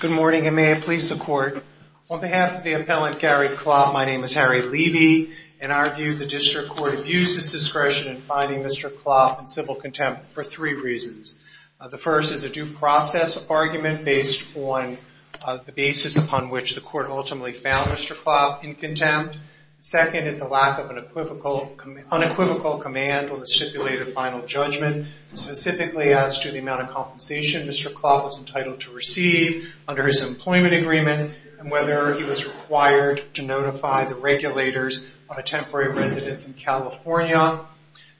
Good morning, and may I please the court. On behalf of the appellant Gary Klopp, my name is Harry Levy. In our view, the district court abuses discretion in finding Mr. Klopp in civil contempt for three reasons. The first is a due process argument based on the basis upon which the court ultimately found Mr. Klopp in contempt. Second is the lack of an unequivocal command on the stipulated final judgment, specifically as to the amount of compensation Mr. Klopp was entitled to receive under his employment agreement and whether he was required to notify the regulators of a temporary residence in California.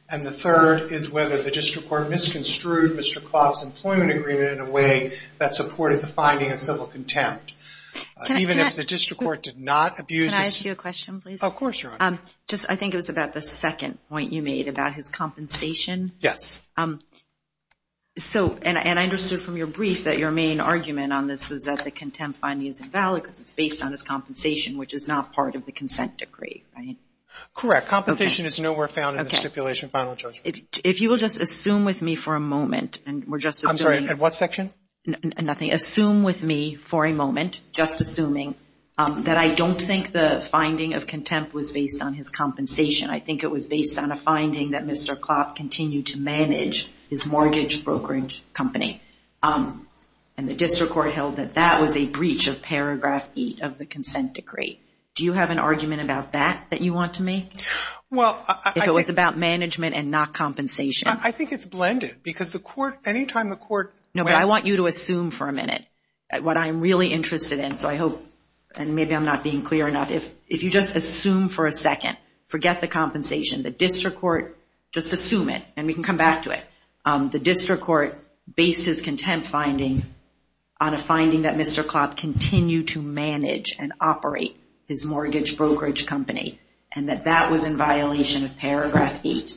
And the third is whether the district court misconstrued Mr. Klopp's employment agreement in a way that supported the finding of civil contempt. Even if the district court did not abuse this. Can I ask you a question, please? Of course, Your Honor. I think it was about the second point you made about his compensation. Yes. So, and I understood from your brief that your main argument on this is that the contempt finding is invalid because it's based on his compensation, which is not part of the consent decree, right? Correct. Compensation is nowhere found in the stipulation final judgment. If you will just assume with me for a moment, and we're just assuming. I'm sorry, at what section? Nothing. Assume with me for a moment, just assuming, that I don't think the finding of contempt was based on his compensation. I think it was based on a finding that Mr. Klopp continued to manage his mortgage brokerage company. And the district court held that that was a breach of paragraph 8 of the consent decree. Do you have an argument about that that you want to make? Well, I. If it was about management and not compensation. I think it's blended because the court, any time the court. No, but I want you to assume for a minute what I'm really interested in. So, I hope, and maybe I'm not being clear enough. If you just assume for a second, forget the compensation. The district court, just assume it, and we can come back to it. The district court based his contempt finding on a finding that Mr. Klopp continued to manage and operate his mortgage brokerage company. And that that was in violation of paragraph 8.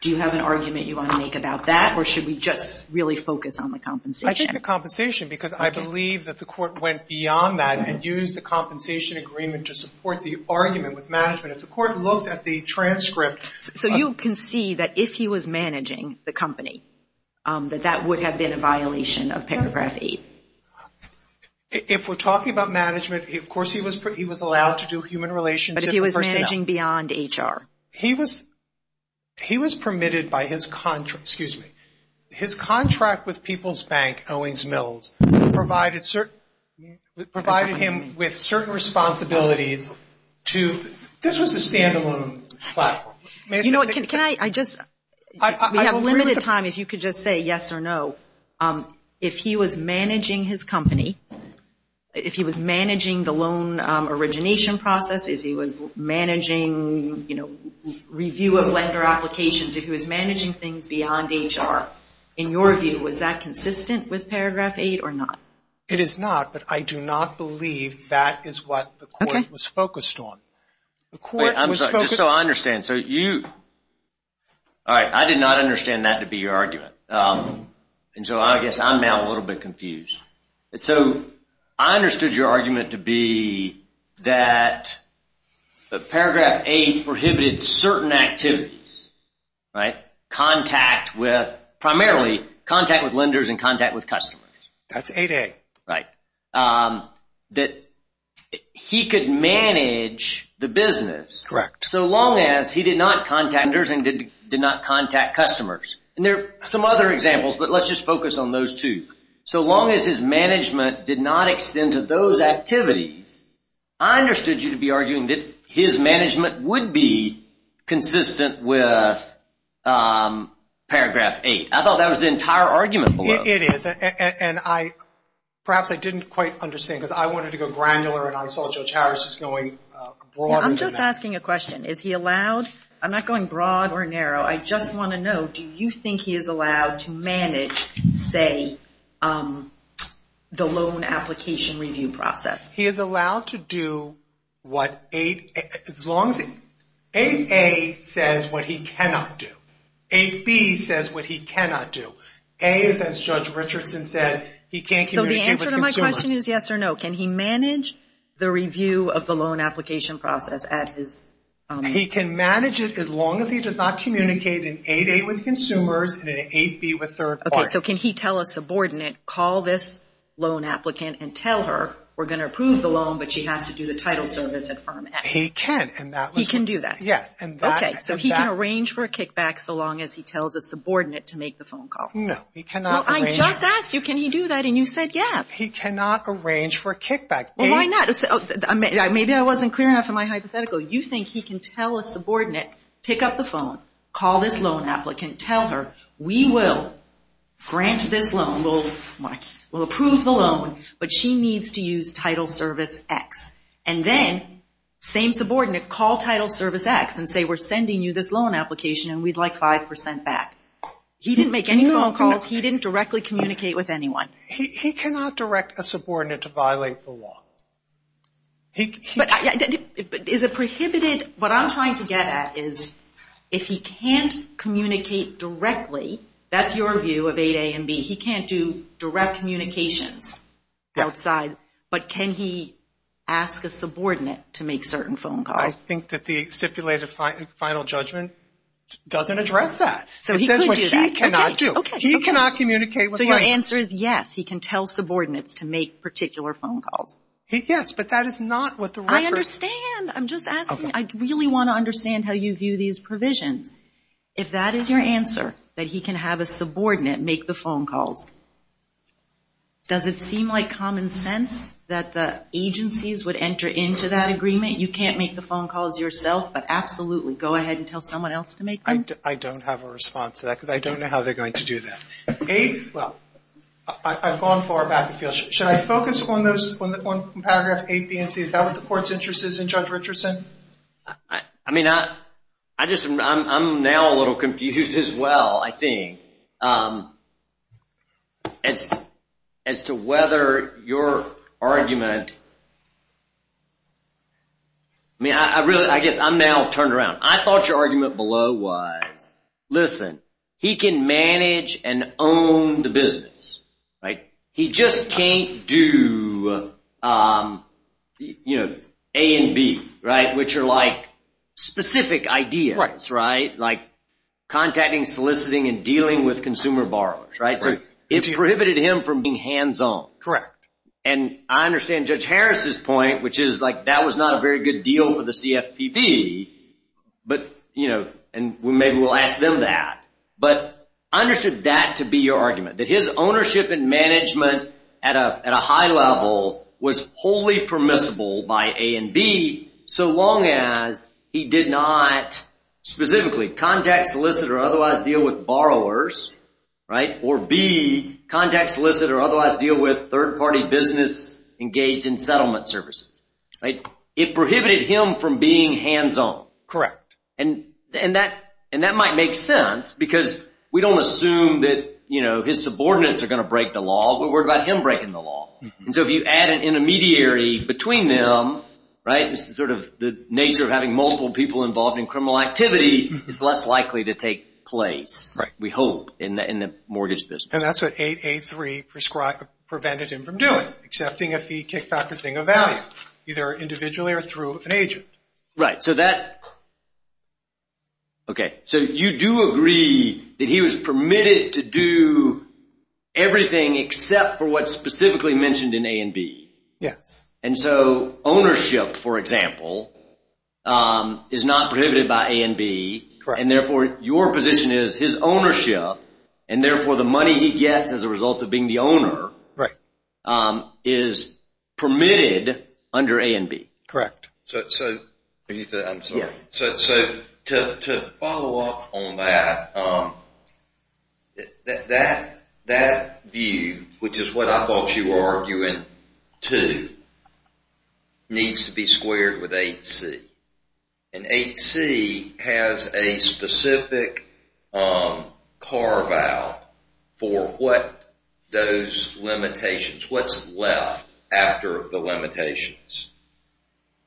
Do you have an argument you want to make about that? Or should we just really focus on the compensation? I think the compensation because I believe that the court went beyond that and used the compensation agreement to support the argument with management. If the court looks at the transcript. So, you can see that if he was managing the company, that that would have been a violation of paragraph 8. If we're talking about management, of course, he was allowed to do human relations. But if he was managing beyond HR? He was permitted by his contract. Excuse me. His contract with People's Bank, Owings Mills, provided him with certain responsibilities to, this was a stand-alone platform. Can I just, we have limited time if you could just say yes or no. If he was managing his company, if he was managing the loan origination process, if he was managing, you know, review of lender applications, if he was managing things beyond HR, in your view, was that consistent with paragraph 8 or not? It is not, but I do not believe that is what the court was focused on. Just so I understand, so you, all right, I did not understand that to be your argument. And so I guess I'm now a little bit confused. So, I understood your argument to be that paragraph 8 prohibited certain activities, right? Contact with, primarily, contact with lenders and contact with customers. That's 8A. That he could manage the business. Correct. So long as he did not contact lenders and did not contact customers. And there are some other examples, but let's just focus on those two. So long as his management did not extend to those activities, I understood you to be arguing that his management would be consistent with paragraph 8. I thought that was the entire argument below. It is. And I, perhaps I didn't quite understand because I wanted to go granular and I saw Judge Harris was going broader than that. I'm just asking a question. Is he allowed, I'm not going broad or narrow, I just want to know, do you think he is allowed to manage, say, the loan application review process? He is allowed to do what 8, as long as 8A says what he cannot do. 8B says what he cannot do. A is, as Judge Richardson said, he can't communicate with consumers. So the answer to my question is yes or no. Can he manage the review of the loan application process at his firm? He can manage it as long as he does not communicate in 8A with consumers and in 8B with third parties. Okay. So can he tell a subordinate, call this loan applicant and tell her, we're going to approve the loan, but she has to do the title service at firm F? He can. He can do that? Yes. Okay. So he can arrange for a kickback so long as he tells a subordinate to make the phone call. No, he cannot arrange that. Well, I just asked you, can he do that, and you said yes. He cannot arrange for a kickback. Well, why not? Maybe I wasn't clear enough in my hypothetical. You think he can tell a subordinate, pick up the phone, call this loan applicant, tell her, we will grant this loan, we'll approve the loan, but she needs to use title service X. And then, same subordinate, call title service X and say, we're sending you this loan application and we'd like 5% back. He didn't make any phone calls. He didn't directly communicate with anyone. He cannot direct a subordinate to violate the law. But is it prohibited? What I'm trying to get at is if he can't communicate directly, that's your view of 8A and B, he can't do direct communications outside. But can he ask a subordinate to make certain phone calls? I think that the stipulated final judgment doesn't address that. So he could do that. It says what he cannot do. Okay, okay. He cannot communicate with clients. So your answer is yes, he can tell subordinates to make particular phone calls. Yes, but that is not what the record. I understand. I'm just asking. I really want to understand how you view these provisions. If that is your answer, that he can have a subordinate make the phone calls, does it seem like common sense that the agencies would enter into that agreement? You can't make the phone calls yourself, but absolutely, go ahead and tell someone else to make them? I don't have a response to that because I don't know how they're going to do that. A, well, I've gone far back. Should I focus on those, on paragraph 8B and C? Is that what the Court's interest is in Judge Richardson? I mean, I'm now a little confused as well, I think, as to whether your argument – I mean, I guess I'm now turned around. I thought your argument below was, listen, he can manage and own the business, right? He just can't do A and B, right, which are like specific ideas, right, like contacting, soliciting, and dealing with consumer borrowers, right? So it prohibited him from being hands-on. Correct. And I understand Judge Harris's point, which is like that was not a very good deal for the CFPB, and maybe we'll ask them that. But I understood that to be your argument, that his ownership and management at a high level was wholly permissible by A and B, so long as he did not specifically contact, solicit, or otherwise deal with borrowers, right, or B, contact, solicit, or otherwise deal with third-party business engaged in settlement services. It prohibited him from being hands-on. Correct. And that might make sense because we don't assume that his subordinates are going to break the law. We're worried about him breaking the law. And so if you add an intermediary between them, right, it's sort of the nature of having multiple people involved in criminal activity is less likely to take place, we hope, in the mortgage business. And that's what 8A3 prevented him from doing, accepting a fee, kickback, or thing of value, either individually or through an agent. Right, so that, okay, so you do agree that he was permitted to do everything except for what's specifically mentioned in A and B. Yes. And so ownership, for example, is not prohibited by A and B, and therefore your position is his ownership, and therefore the money he gets as a result of being the owner is permitted under A and B. Correct. So to follow up on that, that view, which is what I thought you were arguing to, needs to be squared with 8C. And 8C has a specific carve-out for what those limitations, what's left after the limitations.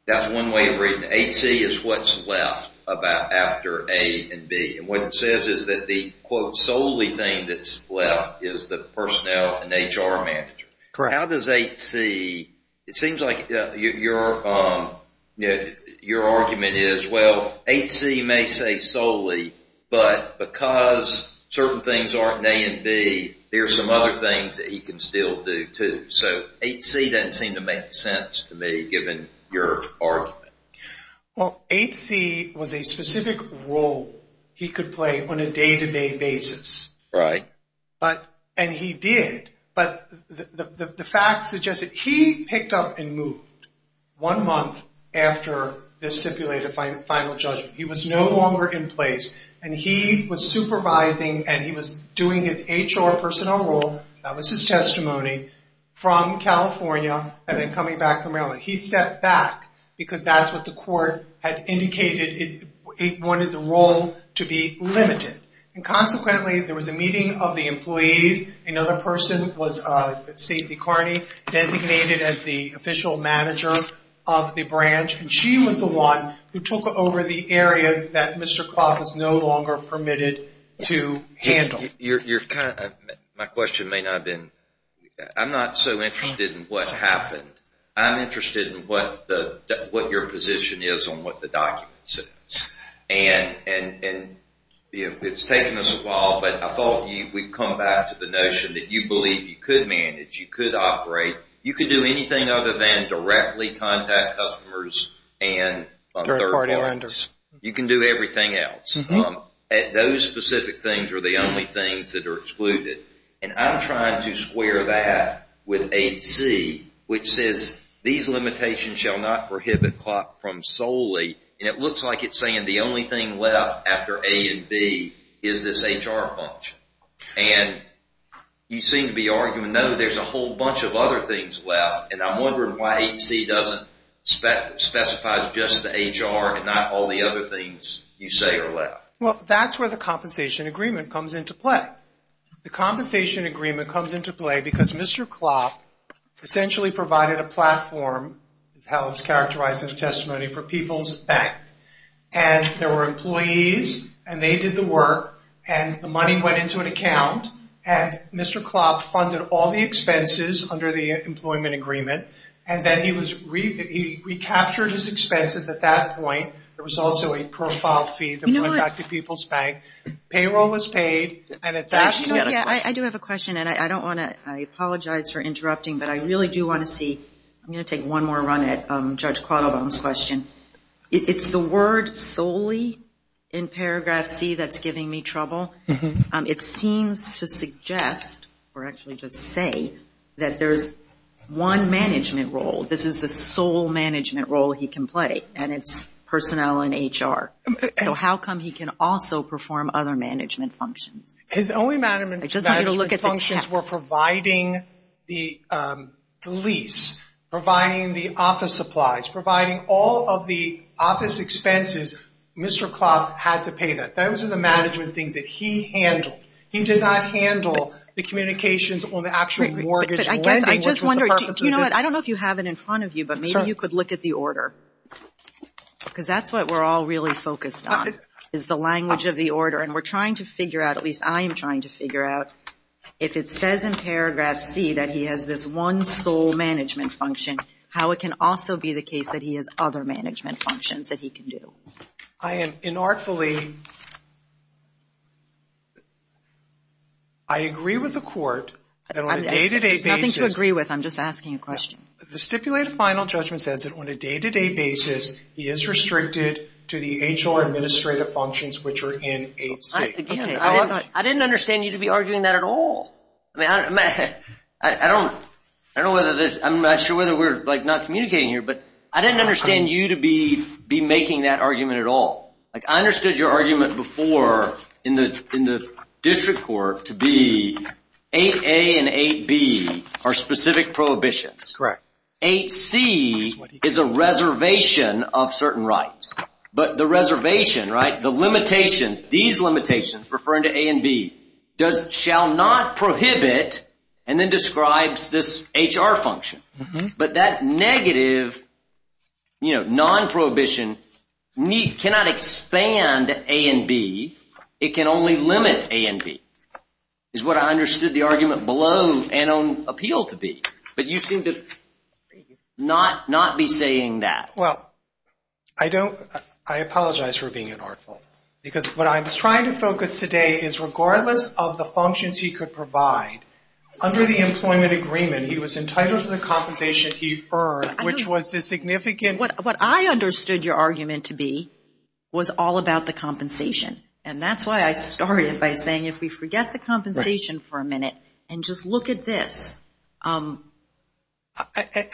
That's one way of reading it. 8C is what's left after A and B. And what it says is that the, quote, solely thing that's left is the personnel and HR manager. Correct. So how does 8C, it seems like your argument is, well, 8C may say solely, but because certain things aren't in A and B, there are some other things that he can still do, too. So 8C doesn't seem to make sense to me, given your argument. Well, 8C was a specific role he could play on a day-to-day basis. Right. And he did. But the facts suggest that he picked up and moved one month after the stipulated final judgment. He was no longer in place, and he was supervising and he was doing his HR personnel role, that was his testimony, from California and then coming back from Maryland. He stepped back because that's what the court had indicated it wanted the role to be limited. And consequently, there was a meeting of the employees. Another person was Stacey Carney, designated as the official manager of the branch. And she was the one who took over the area that Mr. Clark was no longer permitted to handle. My question may not have been, I'm not so interested in what happened. I'm interested in what your position is on what the document says. And it's taken us a while, but I thought we'd come back to the notion that you believe you could manage, you could operate, you could do anything other than directly contact customers and third-party vendors. You can do everything else. Those specific things are the only things that are excluded. And I'm trying to square that with 8C, which says, these limitations shall not prohibit CLOP from solely. And it looks like it's saying the only thing left after A and B is this HR function. And you seem to be arguing, no, there's a whole bunch of other things left. And I'm wondering why 8C doesn't specify just the HR and not all the other things you say are left. Well, that's where the compensation agreement comes into play. The compensation agreement comes into play because Mr. CLOP essentially provided a platform, that's how it's characterized in the testimony, for People's Bank. And there were employees, and they did the work, and the money went into an account, and Mr. CLOP funded all the expenses under the employment agreement. And then he recaptured his expenses at that point. There was also a profile fee that went back to People's Bank. Payroll was paid. I do have a question, and I apologize for interrupting, but I really do want to see. I'm going to take one more run at Judge Quattlebaum's question. It's the word solely in paragraph C that's giving me trouble. It seems to suggest, or actually just say, that there's one management role. This is the sole management role he can play, and it's personnel and HR. So how come he can also perform other management functions? His only management functions were providing the lease, providing the office supplies, providing all of the office expenses. Mr. CLOP had to pay that. Those are the management things that he handled. He did not handle the communications on the actual mortgage lending. But I guess I just wonder. Do you know what? I don't know if you have it in front of you, but maybe you could look at the order. Because that's what we're all really focused on, is the language of the order. And we're trying to figure out, at least I am trying to figure out, if it says in paragraph C that he has this one sole management function, how it can also be the case that he has other management functions that he can do. I am inartfully. I agree with the court that on a day-to-day basis. I'm just asking a question. The stipulated final judgment says that on a day-to-day basis, he is restricted to the HR administrative functions, which are in 8C. I didn't understand you to be arguing that at all. I'm not sure whether we're not communicating here, but I didn't understand you to be making that argument at all. I understood your argument before in the district court to be 8A and 8B are specific prohibitions. Correct. 8C is a reservation of certain rights. But the reservation, the limitations, these limitations, referring to A and B, shall not prohibit and then describes this HR function. But that negative, non-prohibition, cannot expand A and B. It can only limit A and B, is what I understood the argument below and on appeal to be. But you seem to not be saying that. Well, I apologize for being inartful, because what I'm trying to focus today is regardless of the functions he could provide, under the employment agreement, he was entitled to the compensation he earned, which was the significant... What I understood your argument to be was all about the compensation, and that's why I started by saying if we forget the compensation for a minute and just look at this... And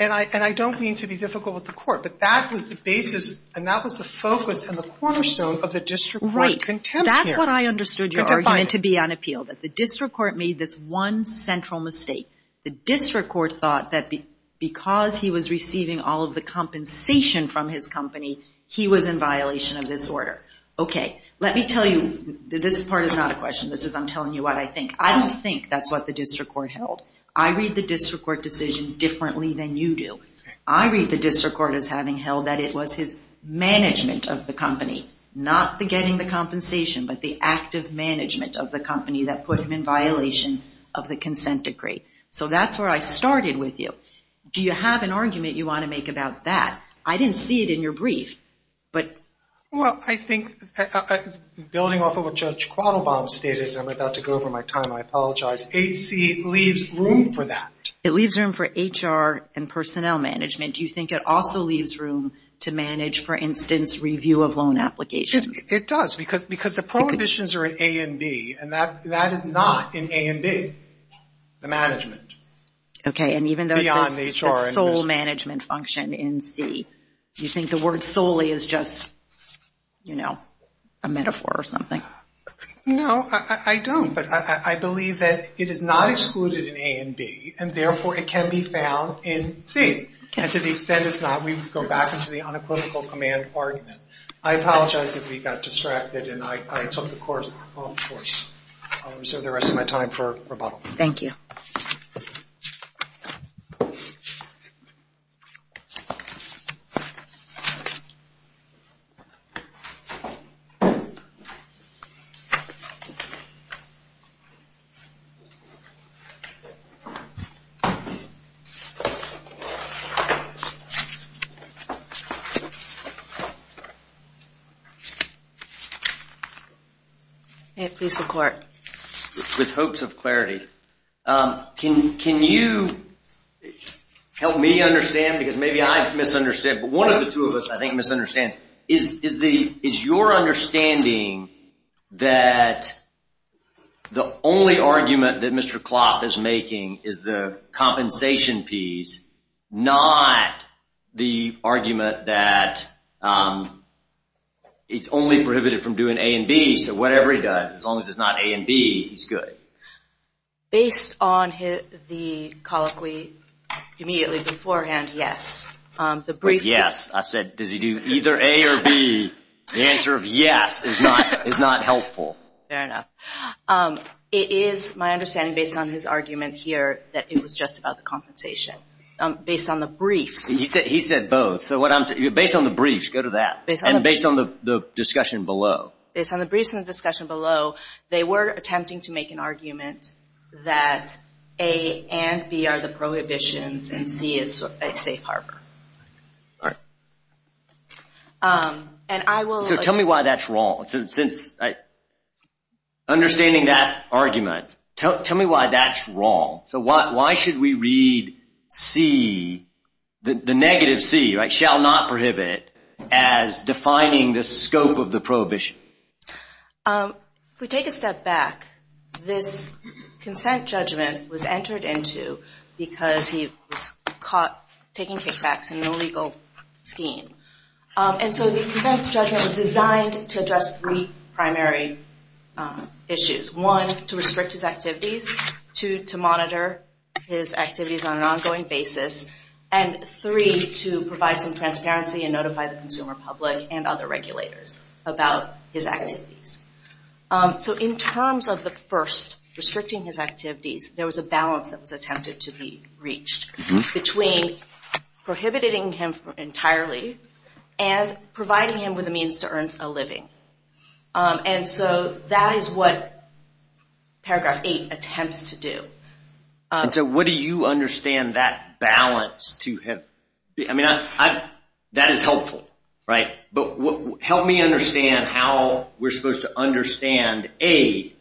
I don't mean to be difficult with the court, but that was the basis and that was the focus and the cornerstone of the district court contempt here. That's what I understood your argument to be on appeal, that the district court made this one central mistake. The district court thought that because he was receiving all of the compensation from his company, he was in violation of this order. Okay. Let me tell you that this part is not a question. This is I'm telling you what I think. I don't think that's what the district court held. I read the district court decision differently than you do. I read the district court as having held that it was his management of the company, not the getting the compensation, but the active management of the company that put him in violation of the consent decree. So that's where I started with you. Do you have an argument you want to make about that? I didn't see it in your brief, but... Building off of what Judge Quattlebaum stated, and I'm about to go over my time, I apologize, HC leaves room for that. It leaves room for HR and personnel management. Do you think it also leaves room to manage, for instance, review of loan applications? It does because the prohibitions are in A and B, and that is not in A and B, the management. Okay, and even though it's a sole management function in C, do you think the word solely is just, you know, a metaphor or something? No, I don't. But I believe that it is not excluded in A and B, and therefore it can be found in C. And to the extent it's not, we would go back into the unequivocal command argument. I apologize if we got distracted, and I took the course. I'll reserve the rest of my time for rebuttal. Thank you. Thank you. May it please the Court. With hopes of clarity, can you help me understand, because maybe I misunderstand, but one of the two of us, I think, misunderstands. Is your understanding that the only argument that Mr. Klopp is making is the compensation piece, not the argument that it's only prohibited from doing A and B, so whatever he does, as long as it's not A and B, he's good? Based on the colloquy immediately beforehand, yes. Yes. I said, does he do either A or B? The answer of yes is not helpful. Fair enough. It is my understanding, based on his argument here, that it was just about the compensation. Based on the briefs. He said both. Based on the briefs, go to that. And based on the discussion below. Based on the briefs and the discussion below, they were attempting to make an argument that A and B are the prohibitions and C is a safe harbor. Tell me why that's wrong. Understanding that argument, tell me why that's wrong. Why should we read C, the negative C, shall not prohibit, as defining the scope of the prohibition? If we take a step back, this consent judgment was entered into because he was caught taking kickbacks in an illegal scheme. And so the consent judgment was designed to address three primary issues. One, to restrict his activities. Two, to monitor his activities on an ongoing basis. And three, to provide some transparency and notify the consumer public and other regulators about his activities. So in terms of the first, restricting his activities, there was a balance that was attempted to be reached between prohibiting him entirely and providing him with a means to earn a living. And so that is what Paragraph 8 attempts to do. And so what do you understand that balance to him? That is helpful, right? But help me understand how we're supposed to understand A,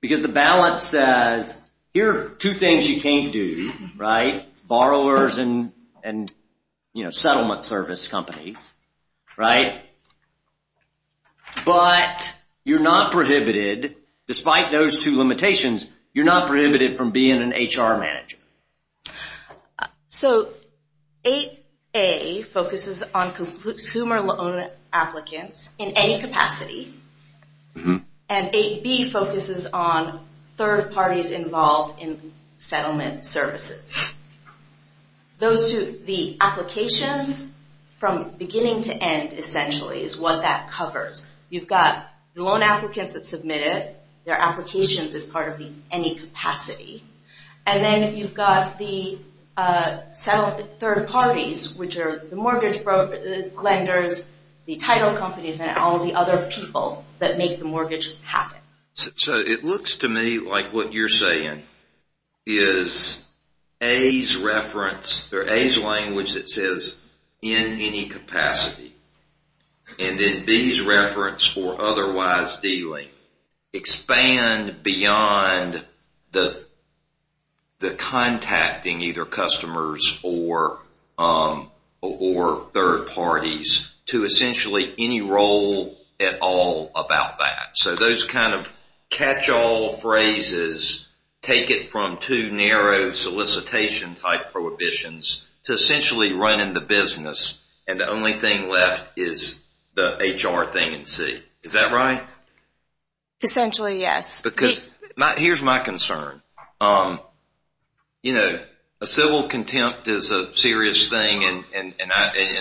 because the balance says, here are two things you can't do, right? Borrowers and settlement service companies, right? But you're not prohibited, despite those two limitations, you're not prohibited from being an HR manager. So 8A focuses on consumer loan applicants in any capacity. And 8B focuses on third parties involved in settlement services. Those two, the applications from beginning to end, essentially, is what that covers. You've got the loan applicants that submitted their applications as part of the any capacity. And then you've got the third parties, which are the mortgage lenders, the title companies, and all the other people that make the mortgage happen. So it looks to me like what you're saying is A's reference, or A's language that says, in any capacity. And then B's reference for otherwise dealing. Expand beyond the contacting either customers or third parties to essentially any role at all about that. So those kind of catch-all phrases take it from two narrow solicitation-type prohibitions to essentially running the business, and the only thing left is the HR thing in C. Is that right? Essentially, yes. Here's my concern. A civil contempt is a serious thing, and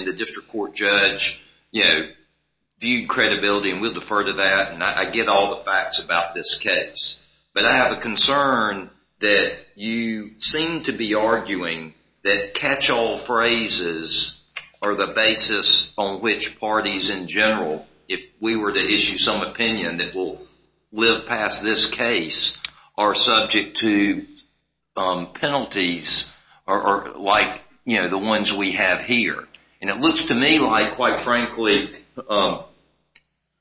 the district court judge viewed credibility, and we'll defer to that, and I get all the facts about this case. But I have a concern that you seem to be arguing that catch-all phrases are the basis on which parties in general, if we were to issue some opinion that will live past this case, are subject to penalties like the ones we have here. And it looks to me like, quite frankly,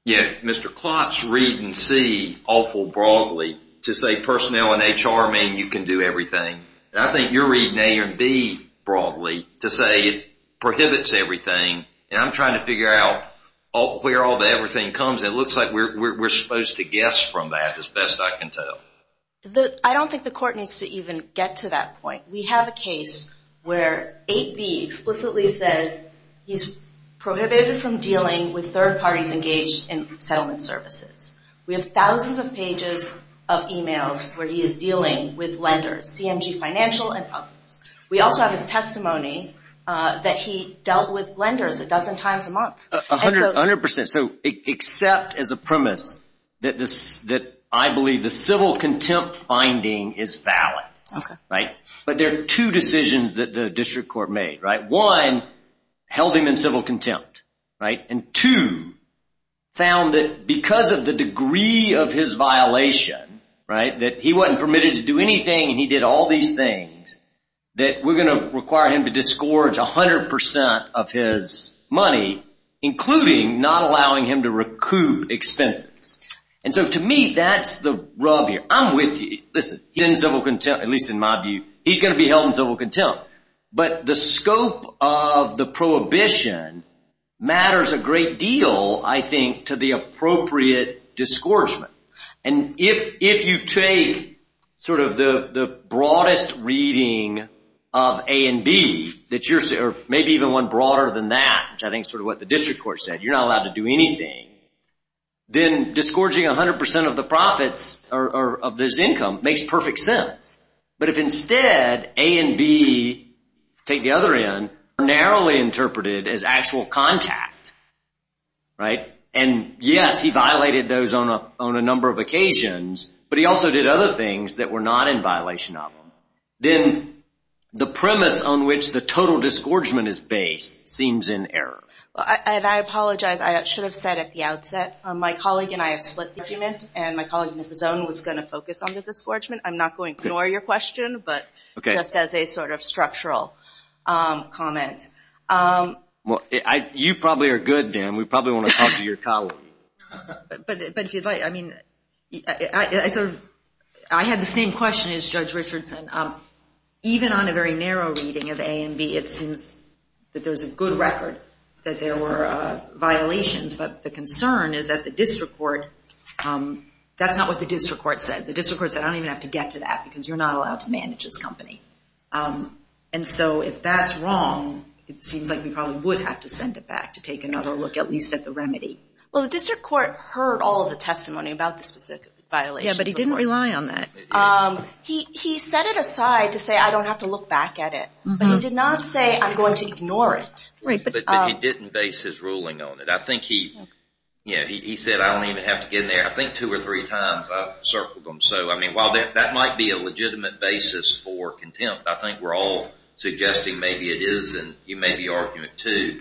Mr. Klotz reading C awful broadly to say personnel and HR mean you can do everything. And I think you're reading A and B broadly to say it prohibits everything, and I'm trying to figure out where all the everything comes, and it looks like we're supposed to guess from that as best I can tell. I don't think the court needs to even get to that point. We have a case where 8B explicitly says he's prohibited from dealing with third parties engaged in settlement services. We have thousands of pages of e-mails where he is dealing with lenders, CMG Financial and Publix. We also have his testimony that he dealt with lenders a dozen times a month. A hundred percent. So except as a premise that I believe the civil contempt finding is valid. Okay. But there are two decisions that the district court made. One, held him in civil contempt. Right? And two, found that because of the degree of his violation, right, that he wasn't permitted to do anything and he did all these things, that we're going to require him to disgorge 100% of his money, including not allowing him to recoup expenses. And so to me that's the rub here. I'm with you. Listen, he's in civil contempt, at least in my view. He's going to be held in civil contempt. But the scope of the prohibition matters a great deal, I think, to the appropriate disgorgement. And if you take sort of the broadest reading of A and B, or maybe even one broader than that, which I think is sort of what the district court said, you're not allowed to do anything, then disgorging 100% of the profits of this income makes perfect sense. But if instead A and B, take the other end, are narrowly interpreted as actual contact, right, and yes, he violated those on a number of occasions, but he also did other things that were not in violation of them, then the premise on which the total disgorgement is based seems in error. And I apologize. I should have said at the outset, my colleague and I have split the argument, and my colleague, Mrs. Zohn, was going to focus on the disgorgement. I'm not going to ignore your question, but just as a sort of structural comment. You probably are good, Dan. We probably want to talk to your colleague. But if you'd like, I mean, I had the same question as Judge Richardson. Even on a very narrow reading of A and B, it seems that there's a good record that there were violations, but the concern is that the district court, that's not what the district court said. The district court said, I don't even have to get to that because you're not allowed to manage this company. And so if that's wrong, it seems like we probably would have to send it back to take another look at least at the remedy. Well, the district court heard all of the testimony about the specific violations. Yeah, but he didn't rely on that. He set it aside to say, I don't have to look back at it, but he did not say, I'm going to ignore it. But he didn't base his ruling on it. I think he said, I don't even have to get in there. I think two or three times I've circled them. So, I mean, while that might be a legitimate basis for contempt, I think we're all suggesting maybe it is, and you may be arguing it too.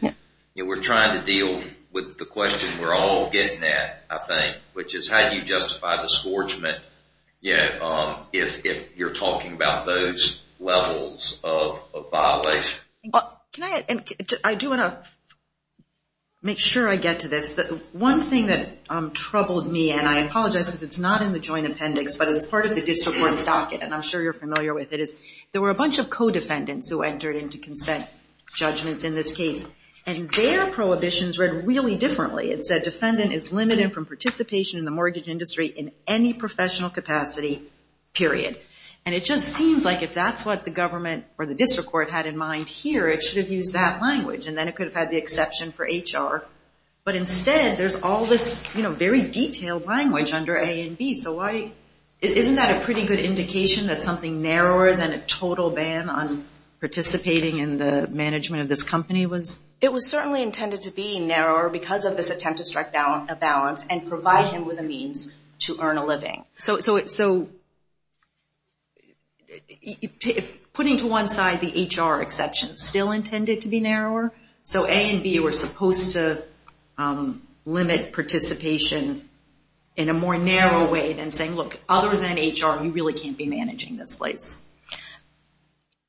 We're trying to deal with the question we're all getting at, I think, which is how do you justify disgorgement if you're talking about those levels of violation? Can I? I do want to make sure I get to this. One thing that troubled me, and I apologize because it's not in the joint appendix, but it's part of the district court's docket, and I'm sure you're familiar with it, is there were a bunch of co-defendants who entered into consent judgments in this case, and their prohibitions read really differently. It said, defendant is limited from participation in the mortgage industry in any professional capacity, period. And it just seems like if that's what the government or the district court had in mind here, it should have used that language, and then it could have had the exception for HR. But instead, there's all this very detailed language under A and B. Isn't that a pretty good indication that something narrower than a total ban on participating in the management of this company was? It was certainly intended to be narrower because of this attempt to strike a balance and provide him with a means to earn a living. So putting to one side the HR exception still intended to be narrower? So A and B were supposed to limit participation in a more narrow way than saying, look, other than HR, you really can't be managing this place.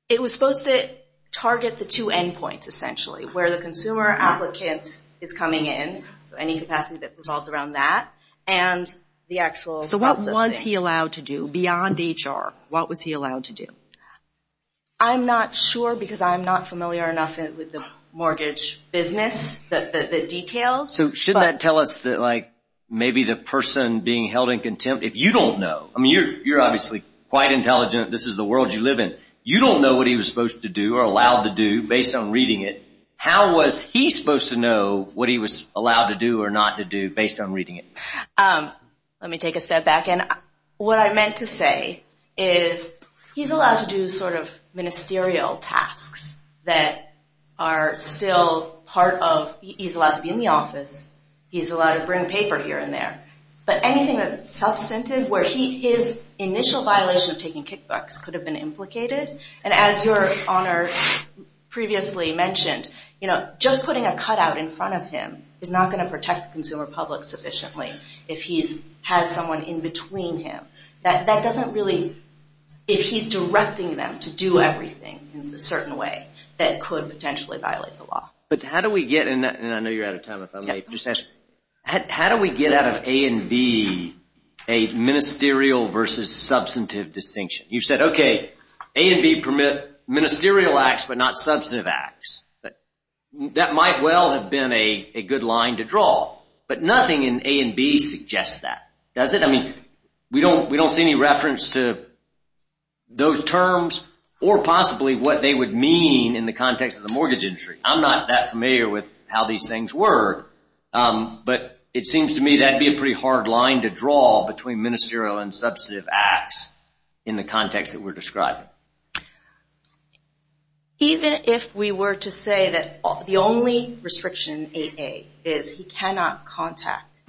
It was supposed to target the two endpoints, essentially, where the consumer applicant is coming in, so any capacity that revolves around that, and the actual process. So what was he allowed to do beyond HR? What was he allowed to do? I'm not sure because I'm not familiar enough with the mortgage business, the details. So shouldn't that tell us that, like, maybe the person being held in contempt, if you don't know, I mean, you're obviously quite intelligent. This is the world you live in. You don't know what he was supposed to do or allowed to do based on reading it. How was he supposed to know what he was allowed to do or not to do based on reading it? Let me take a step back. Again, what I meant to say is he's allowed to do sort of ministerial tasks that are still part of he's allowed to be in the office. He's allowed to bring paper here and there. But anything that's substantive where his initial violation of taking kickbacks could have been implicated, and as your Honor previously mentioned, just putting a cutout in front of him is not going to protect the consumer public sufficiently if he has someone in between him. That doesn't really, if he's directing them to do everything in a certain way, that could potentially violate the law. But how do we get in that, and I know you're out of time if I may, how do we get out of A and B, a ministerial versus substantive distinction? You said, okay, A and B permit ministerial acts but not substantive acts. That might well have been a good line to draw. But nothing in A and B suggests that, does it? I mean, we don't see any reference to those terms or possibly what they would mean in the context of the mortgage industry. I'm not that familiar with how these things work, but it seems to me that would be a pretty hard line to draw between ministerial and substantive acts in the context that we're describing. Even if we were to say that the only restriction in 8A is he cannot contact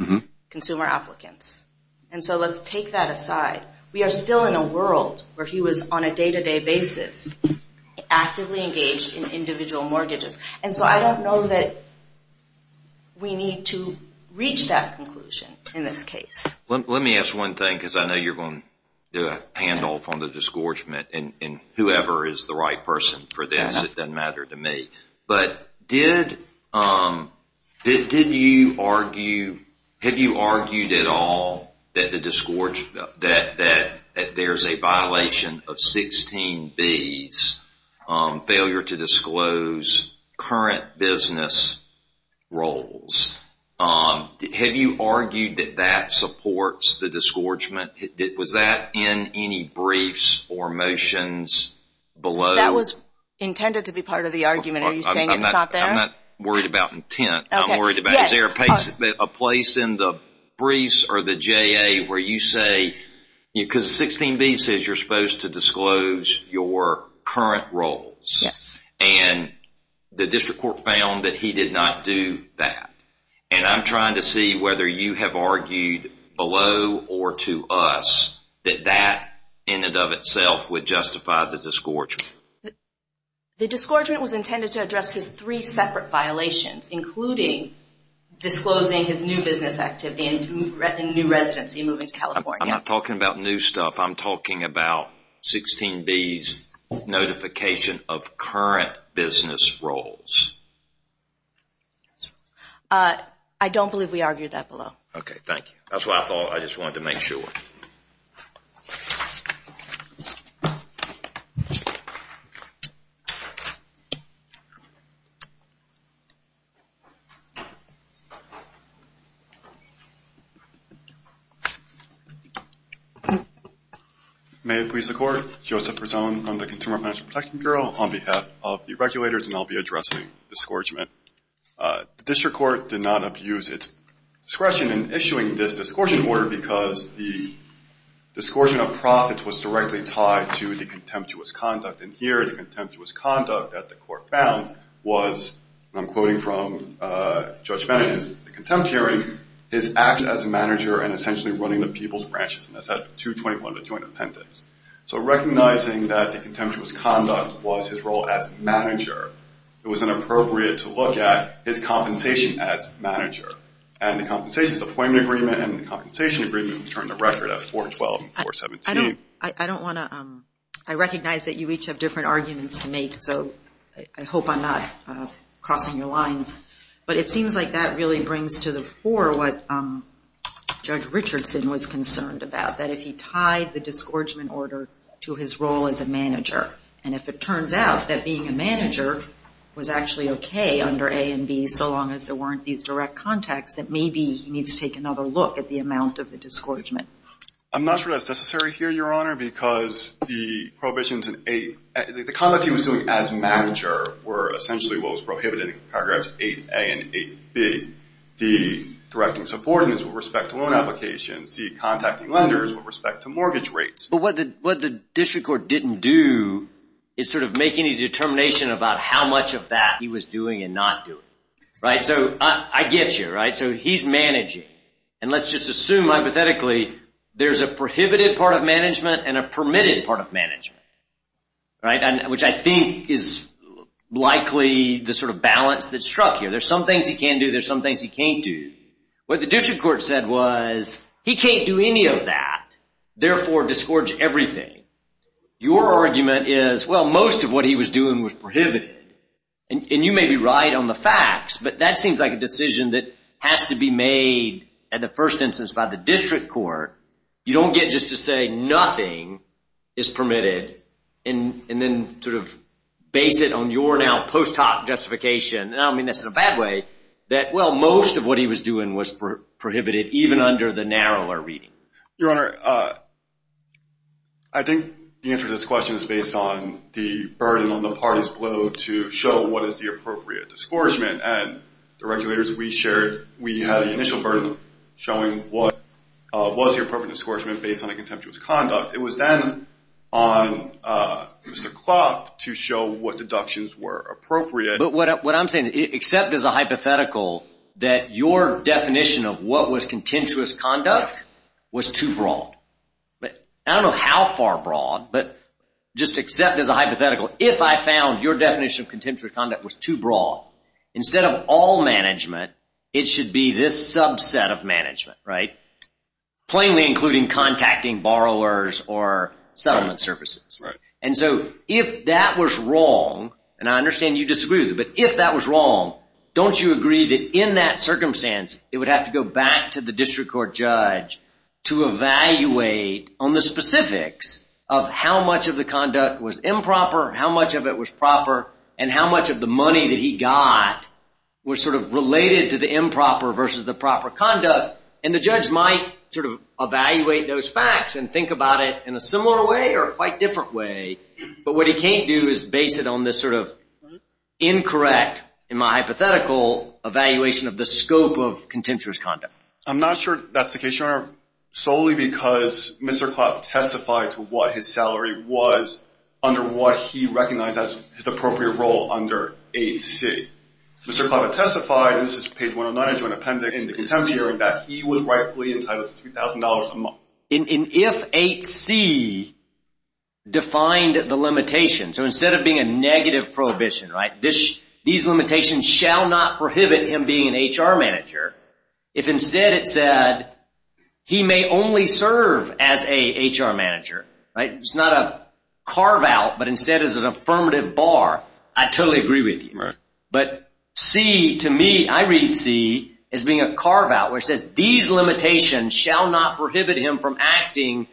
consumer applicants. And so let's take that aside. We are still in a world where he was on a day-to-day basis actively engaged in individual mortgages. And so I don't know that we need to reach that conclusion in this case. Let me ask one thing because I know you're going to do a handoff on the disgorgement and whoever is the right person for this, it doesn't matter to me. But did you argue, have you argued at all that the disgorgement, that there's a violation of 16B's failure to disclose current business roles? Have you argued that that supports the disgorgement? Was that in any briefs or motions below? That was intended to be part of the argument. Are you saying it's not there? I'm not worried about intent. I'm worried about is there a place in the briefs or the JA where you say, because 16B says you're supposed to disclose your current roles. And the district court found that he did not do that. And I'm trying to see whether you have argued below or to us that that in and of itself would justify the disgorgement. The disgorgement was intended to address his three separate violations, including disclosing his new business activity and new residency moving to California. I'm not talking about new stuff. I'm talking about 16B's notification of current business roles. I don't believe we argued that below. Okay, thank you. That's what I thought. I just wanted to make sure. May it please the Court, Joseph Prezone from the Consumer Financial Protection Bureau on behalf of the regulators, and I'll be addressing the disgorgement. The district court did not abuse its discretion in issuing this disgorgement order because the disgorgement of profits was directly tied to the contemptuous conduct. And here the contemptuous conduct that the court found was, and I'm quoting from Judge Bennett, the contempt hearing is acts as a manager and essentially running the people's branches. And that's at 221, the joint appendix. So recognizing that the contemptuous conduct was his role as manager, it was inappropriate to look at his compensation as manager. And the compensations appointment agreement and the compensation agreement was turned to record at 412 and 417. I recognize that you each have different arguments to make, so I hope I'm not crossing your lines. But it seems like that really brings to the fore what Judge Richardson was concerned about, that if he tied the disgorgement order to his role as a manager, and if it turns out that being a manager was actually okay under A and B so long as there weren't these direct contacts, that maybe he needs to take another look at the amount of the disgorgement. I'm not sure that's necessary here, Your Honor, because the prohibitions in A, the conduct he was doing as manager were essentially what was prohibited in paragraphs 8A and 8B, the directing subordinates with respect to loan applications, the contacting lenders with respect to mortgage rates. But what the district court didn't do is sort of make any determination about how much of that he was doing and not doing, right? So I get you, right? So he's managing. And let's just assume hypothetically there's a prohibited part of management and a permitted part of management, right? Which I think is likely the sort of balance that struck here. There's some things he can do, there's some things he can't do. What the district court said was he can't do any of that, therefore disgorge everything. Your argument is, well, most of what he was doing was prohibited. And you may be right on the facts, but that seems like a decision that has to be made in the first instance by the district court. You don't get just to say nothing is permitted and then sort of base it on your now post hoc justification, and I don't mean this in a bad way, that, well, most of what he was doing was prohibited even under the narrower reading. Your Honor, I think the answer to this question is based on the burden on the party's blow to show what is the appropriate disgorgement. And the regulators we shared, we had the initial burden of showing what was the appropriate disgorgement based on the contemptuous conduct. It was then on Mr. Klopp to show what deductions were appropriate. But what I'm saying, except as a hypothetical, that your definition of what was contemptuous conduct was too broad. I don't know how far broad, but just except as a hypothetical, if I found your definition of contemptuous conduct was too broad, instead of all management, it should be this subset of management, right? Plainly including contacting borrowers or settlement services. And so if that was wrong, and I understand you disagree with it, but if that was wrong, don't you agree that in that circumstance it would have to go back to the district court judge to evaluate on the specifics of how much of the conduct was improper, how much of it was proper, and how much of the money that he got was sort of related to the improper versus the proper conduct. And the judge might sort of evaluate those facts and think about it in a similar way or a quite different way. But what he can't do is base it on this sort of incorrect, in my hypothetical, evaluation of the scope of contemptuous conduct. I'm not sure that's the case, Your Honor, solely because Mr. Clapp testified to what his salary was under what he recognized as his appropriate role under 8C. Mr. Clapp testified, and this is page 109 of the joint appendix in the contempt hearing, that he was rightfully entitled to $3,000 a month. And if 8C defined the limitation, so instead of being a negative prohibition, these limitations shall not prohibit him being an HR manager, if instead it said he may only serve as a HR manager, it's not a carve-out, but instead is an affirmative bar, I totally agree with you. But C, to me, I read C as being a carve-out, which says these limitations shall not prohibit him from acting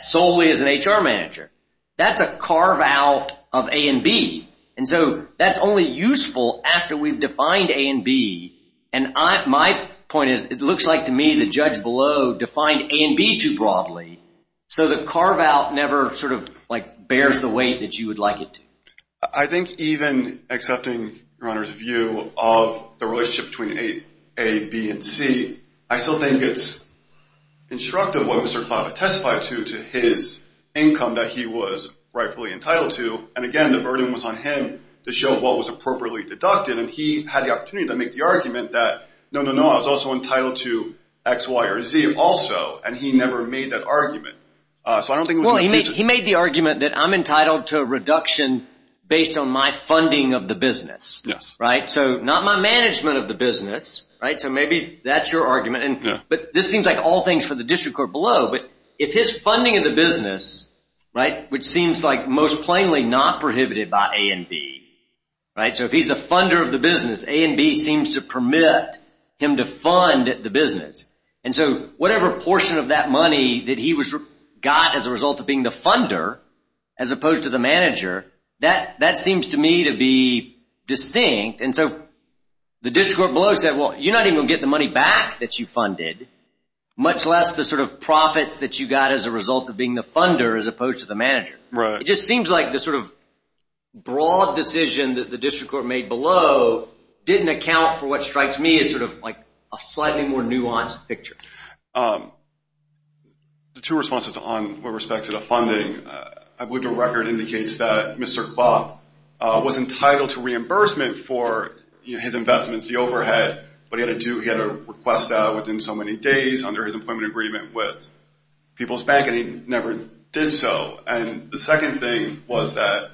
solely as an HR manager. That's a carve-out of A and B. And so that's only useful after we've defined A and B. And my point is it looks like to me the judge below defined A and B too broadly, so the carve-out never sort of bears the weight that you would like it to. I think even accepting, Your Honor, his view of the relationship between A, B, and C, I still think it's instructive what Mr. Clapp testified to due to his income that he was rightfully entitled to. And again, the burden was on him to show what was appropriately deducted, and he had the opportunity to make the argument that, no, no, no, I was also entitled to X, Y, or Z also, and he never made that argument. Well, he made the argument that I'm entitled to a reduction based on my funding of the business, right? So not my management of the business, right? So maybe that's your argument, but this seems like all things for the district court below, but if his funding of the business, right, which seems like most plainly not prohibited by A and B, right? So if he's the funder of the business, A and B seems to permit him to fund the business. And so whatever portion of that money that he got as a result of being the funder as opposed to the manager, that seems to me to be distinct. And so the district court below said, well, you're not even going to get the money back that you funded, much less the sort of profits that you got as a result of being the funder as opposed to the manager. Right. It just seems like the sort of broad decision that the district court made below didn't account for what strikes me as sort of like a slightly more nuanced picture. The two responses on with respect to the funding, I believe your record indicates that Mr. Clough was entitled to reimbursement for his investments, the overhead, but he had to request that within so many days under his employment agreement with People's Bank, and he never did so. And the second thing was that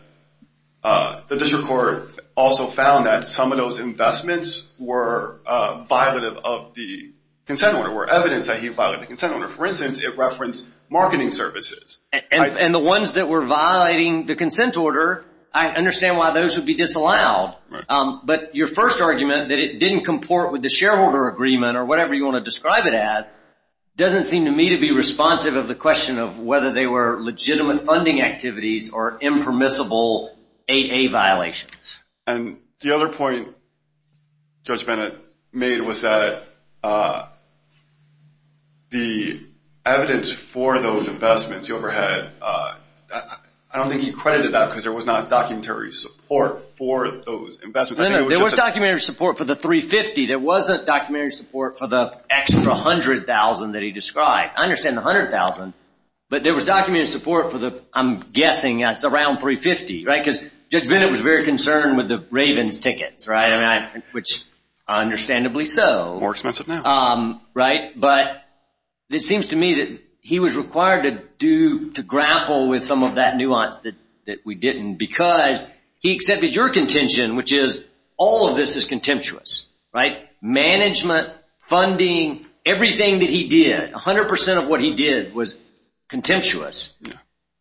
the district court also found that some of those investments were violative of the consent order, were evidence that he violated the consent order. For instance, it referenced marketing services. And the ones that were violating the consent order, I understand why those would be disallowed. But your first argument, that it didn't comport with the shareholder agreement or whatever you want to describe it as, doesn't seem to me to be responsive of the question of whether they were legitimate funding activities or impermissible AA violations. And the other point Judge Bennett made was that the evidence for those investments, the overhead, I don't think he credited that because there was not There was documentary support for the $350,000. There wasn't documentary support for the extra $100,000 that he described. I understand the $100,000, but there was documentary support for the, I'm guessing that's around $350,000, right? Because Judge Bennett was very concerned with the Ravens tickets, right? Which understandably so. More expensive now. Right? But it seems to me that he was required to grapple with some of that nuance that we didn't because he accepted your contention, which is all of this is contemptuous, right? Management, funding, everything that he did, 100% of what he did was contemptuous.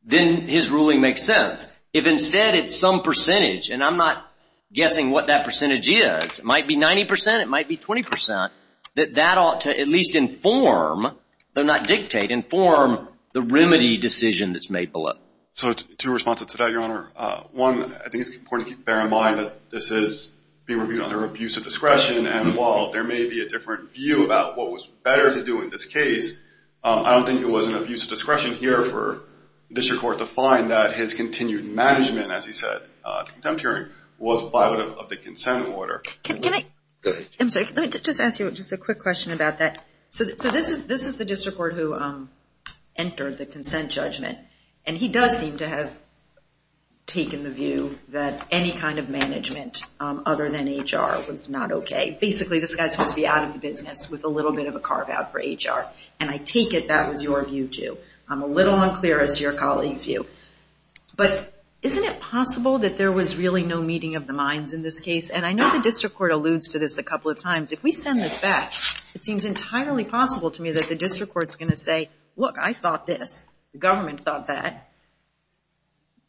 Then his ruling makes sense. If instead it's some percentage, and I'm not guessing what that percentage is, it might be 90%, it might be 20%, that that ought to at least inform, though not dictate, inform the remedy decision that's made below. So two responses to that, Your Honor. One, I think it's important to bear in mind that this is being reviewed under abuse of discretion, and while there may be a different view about what was better to do in this case, I don't think it was an abuse of discretion here for the district court to find that his continued management, as he said, of the contempt hearing, was violative of the consent order. Can I? Go ahead. I'm sorry, let me just ask you just a quick question about that. So this is the district court who entered the consent judgment, and he does seem to have taken the view that any kind of management other than HR was not okay. Basically, this guy's supposed to be out of the business with a little bit of a carve-out for HR, and I take it that was your view, too. I'm a little unclear as to your colleague's view. But isn't it possible that there was really no meeting of the minds in this case? And I know the district court alludes to this a couple of times. If we send this back, it seems entirely possible to me that the district court's going to say, Look, I thought this, the government thought that.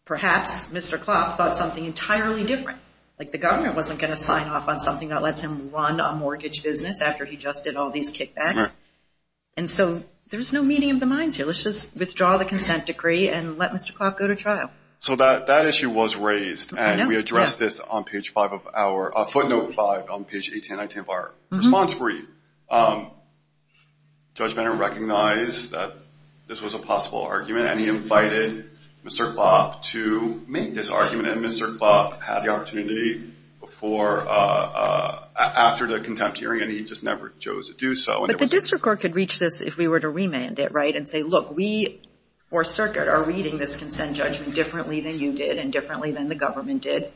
Perhaps Mr. Klopp thought something entirely different. Like the government wasn't going to sign off on something that lets him run a mortgage business after he just did all these kickbacks. And so there's no meeting of the minds here. Let's just withdraw the consent decree and let Mr. Klopp go to trial. So that issue was raised, and we addressed this on page 5 of our footnote 5 on page 18 and 19 of our response brief. Judge Banner recognized that this was a possible argument, and he invited Mr. Klopp to make this argument, and Mr. Klopp had the opportunity after the contempt hearing, and he just never chose to do so. But the district court could reach this if we were to remand it, right, and say, Look, we for Circuit are reading this consent judgment differently than you did and differently than the government did.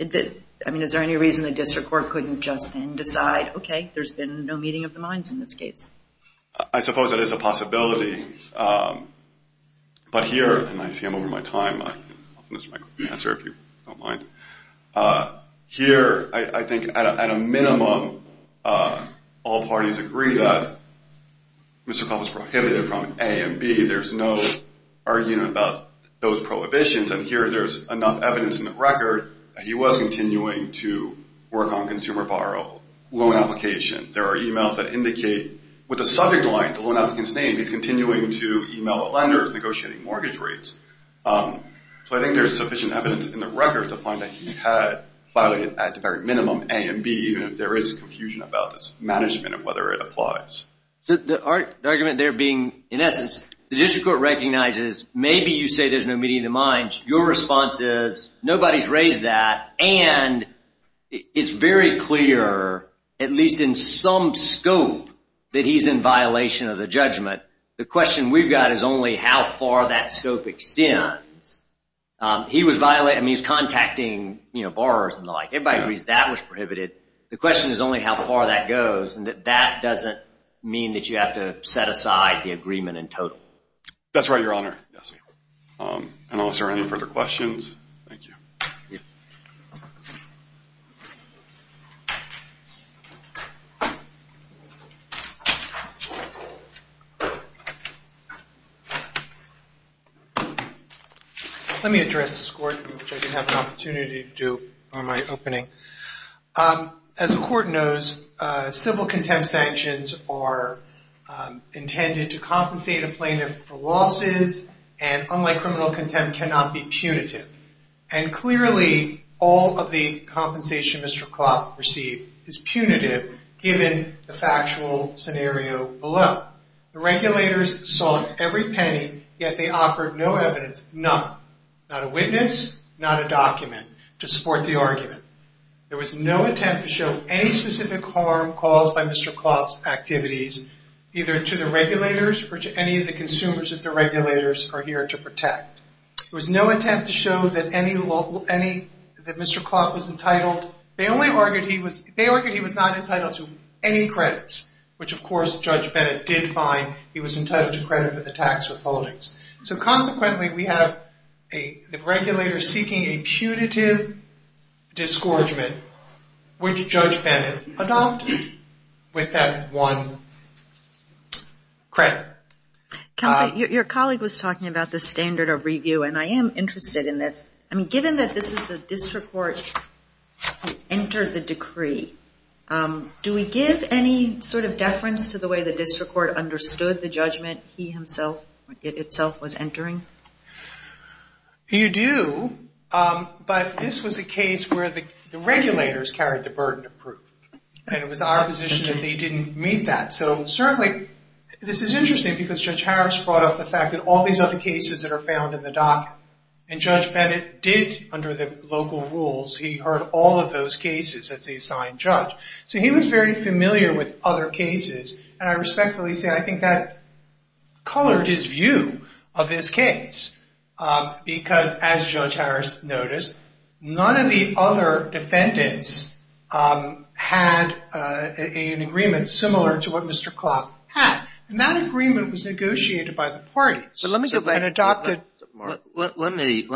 I mean, is there any reason the district court couldn't just then decide, Okay, there's been no meeting of the minds in this case? I suppose that is a possibility. But here, and I see I'm over my time. I'll finish my answer if you don't mind. Here, I think at a minimum, all parties agree that Mr. Klopp is prohibited from A and B. There's no arguing about those prohibitions, and here there's enough evidence in the record that he was continuing to work on consumer borrow, loan applications. There are e-mails that indicate with the subject line, the loan applicant's name, he's continuing to e-mail lenders, negotiating mortgage rates. So I think there's sufficient evidence in the record to find that he had violated at the very minimum A and B, even if there is confusion about this management and whether it applies. The argument there being, in essence, the district court recognizes maybe you say there's no meeting of the minds. Your response is nobody's raised that, and it's very clear, at least in some scope, that he's in violation of the judgment. The question we've got is only how far that scope extends. He was contacting borrowers and the like. Everybody agrees that was prohibited. The question is only how far that goes, and that doesn't mean that you have to set aside the agreement in total. That's right, Your Honor. Unless there are any further questions, thank you. Let me address this court, which I didn't have an opportunity to do on my opening. As the court knows, civil contempt sanctions are intended to compensate a plaintiff for losses, and unlike criminal contempt, cannot be punitive. Clearly, all of the compensation Mr. Klopp received is punitive, given the factual scenario below. The regulators sought every penny, yet they offered no evidence, none. Not a witness, not a document to support the argument. There was no attempt to show any specific harm caused by Mr. Klopp's activities, either to the regulators or to any of the consumers that the regulators are here to protect. There was no attempt to show that Mr. Klopp was entitled. They argued he was not entitled to any credits, which, of course, Judge Bennett did find he was entitled to credit for the tax withholdings. Consequently, we have the regulators seeking a punitive disgorgement, which Judge Bennett adopted with that one credit. Counsel, your colleague was talking about the standard of review, and I am interested in this. Given that this is the district court who entered the decree, do we give any sort of deference to the way the district court understood the judgment itself was entering? You do, but this was a case where the regulators carried the burden of proof, and it was our position that they didn't meet that. Certainly, this is interesting because Judge Harris brought up the fact that all these other cases that are found in the docket, and Judge Bennett did, under the local rules, he heard all of those cases as the assigned judge. He was very familiar with other cases, and I respectfully say I think that colored his view of this case because, as Judge Harris noticed, none of the other defendants had an agreement similar to what Mr. Klopp had, and that agreement was negotiated by the parties. Let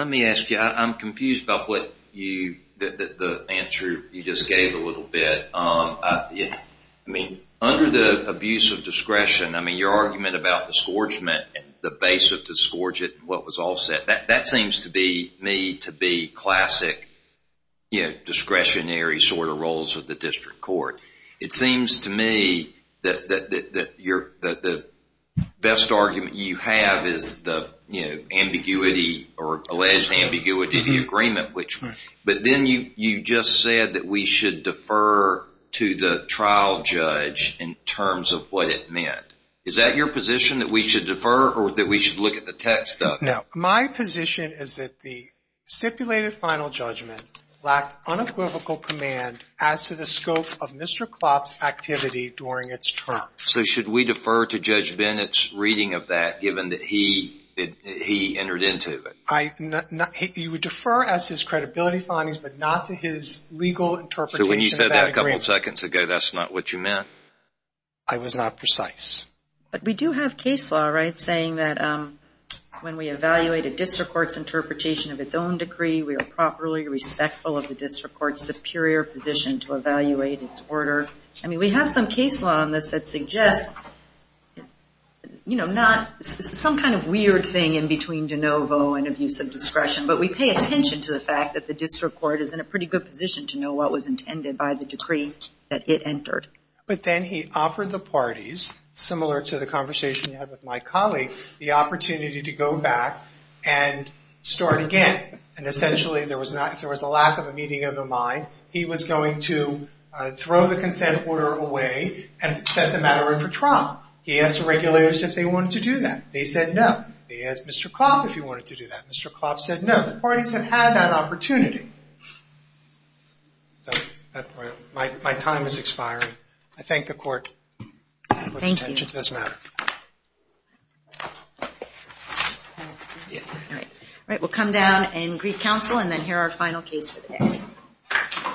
me ask you. I'm confused about the answer you just gave a little bit. Under the abuse of discretion, I mean, your argument about disgorgement, the basis of disgorgement, what was offset, that seems to me to be classic discretionary sort of roles of the district court. It seems to me that the best argument you have is the ambiguity or alleged ambiguity of the agreement, but then you just said that we should defer to the trial judge in terms of what it meant. Is that your position, that we should defer or that we should look at the text of it? No. My position is that the stipulated final judgment lacked unequivocal command as to the scope of Mr. Klopp's activity during its term. So should we defer to Judge Bennett's reading of that given that he entered into it? You would defer as his credibility findings, but not to his legal interpretation of that agreement. So when you said that a couple seconds ago, that's not what you meant? I was not precise. But we do have case law, right, saying that when we evaluate a district court's interpretation of its own decree, we are properly respectful of the district court's superior position to evaluate its order. I mean, we have some case law on this that suggests, you know, not some kind of weird thing in between de novo and abuse of discretion, but we pay attention to the fact that the district court is in a pretty good position to know what was intended by the decree that it entered. But then he offered the parties, similar to the conversation you had with my colleague, the opportunity to go back and start again. And essentially, if there was a lack of a meeting of the mind, he was going to throw the consent order away and set the matter up for trial. He asked the regulators if they wanted to do that. They said no. He asked Mr. Klopp if he wanted to do that. Mr. Klopp said no. The parties have had that opportunity. So my time is expiring. I thank the court for its attention. Thank you. It does matter. All right. We'll come down and greet counsel, and then hear our final case for the day.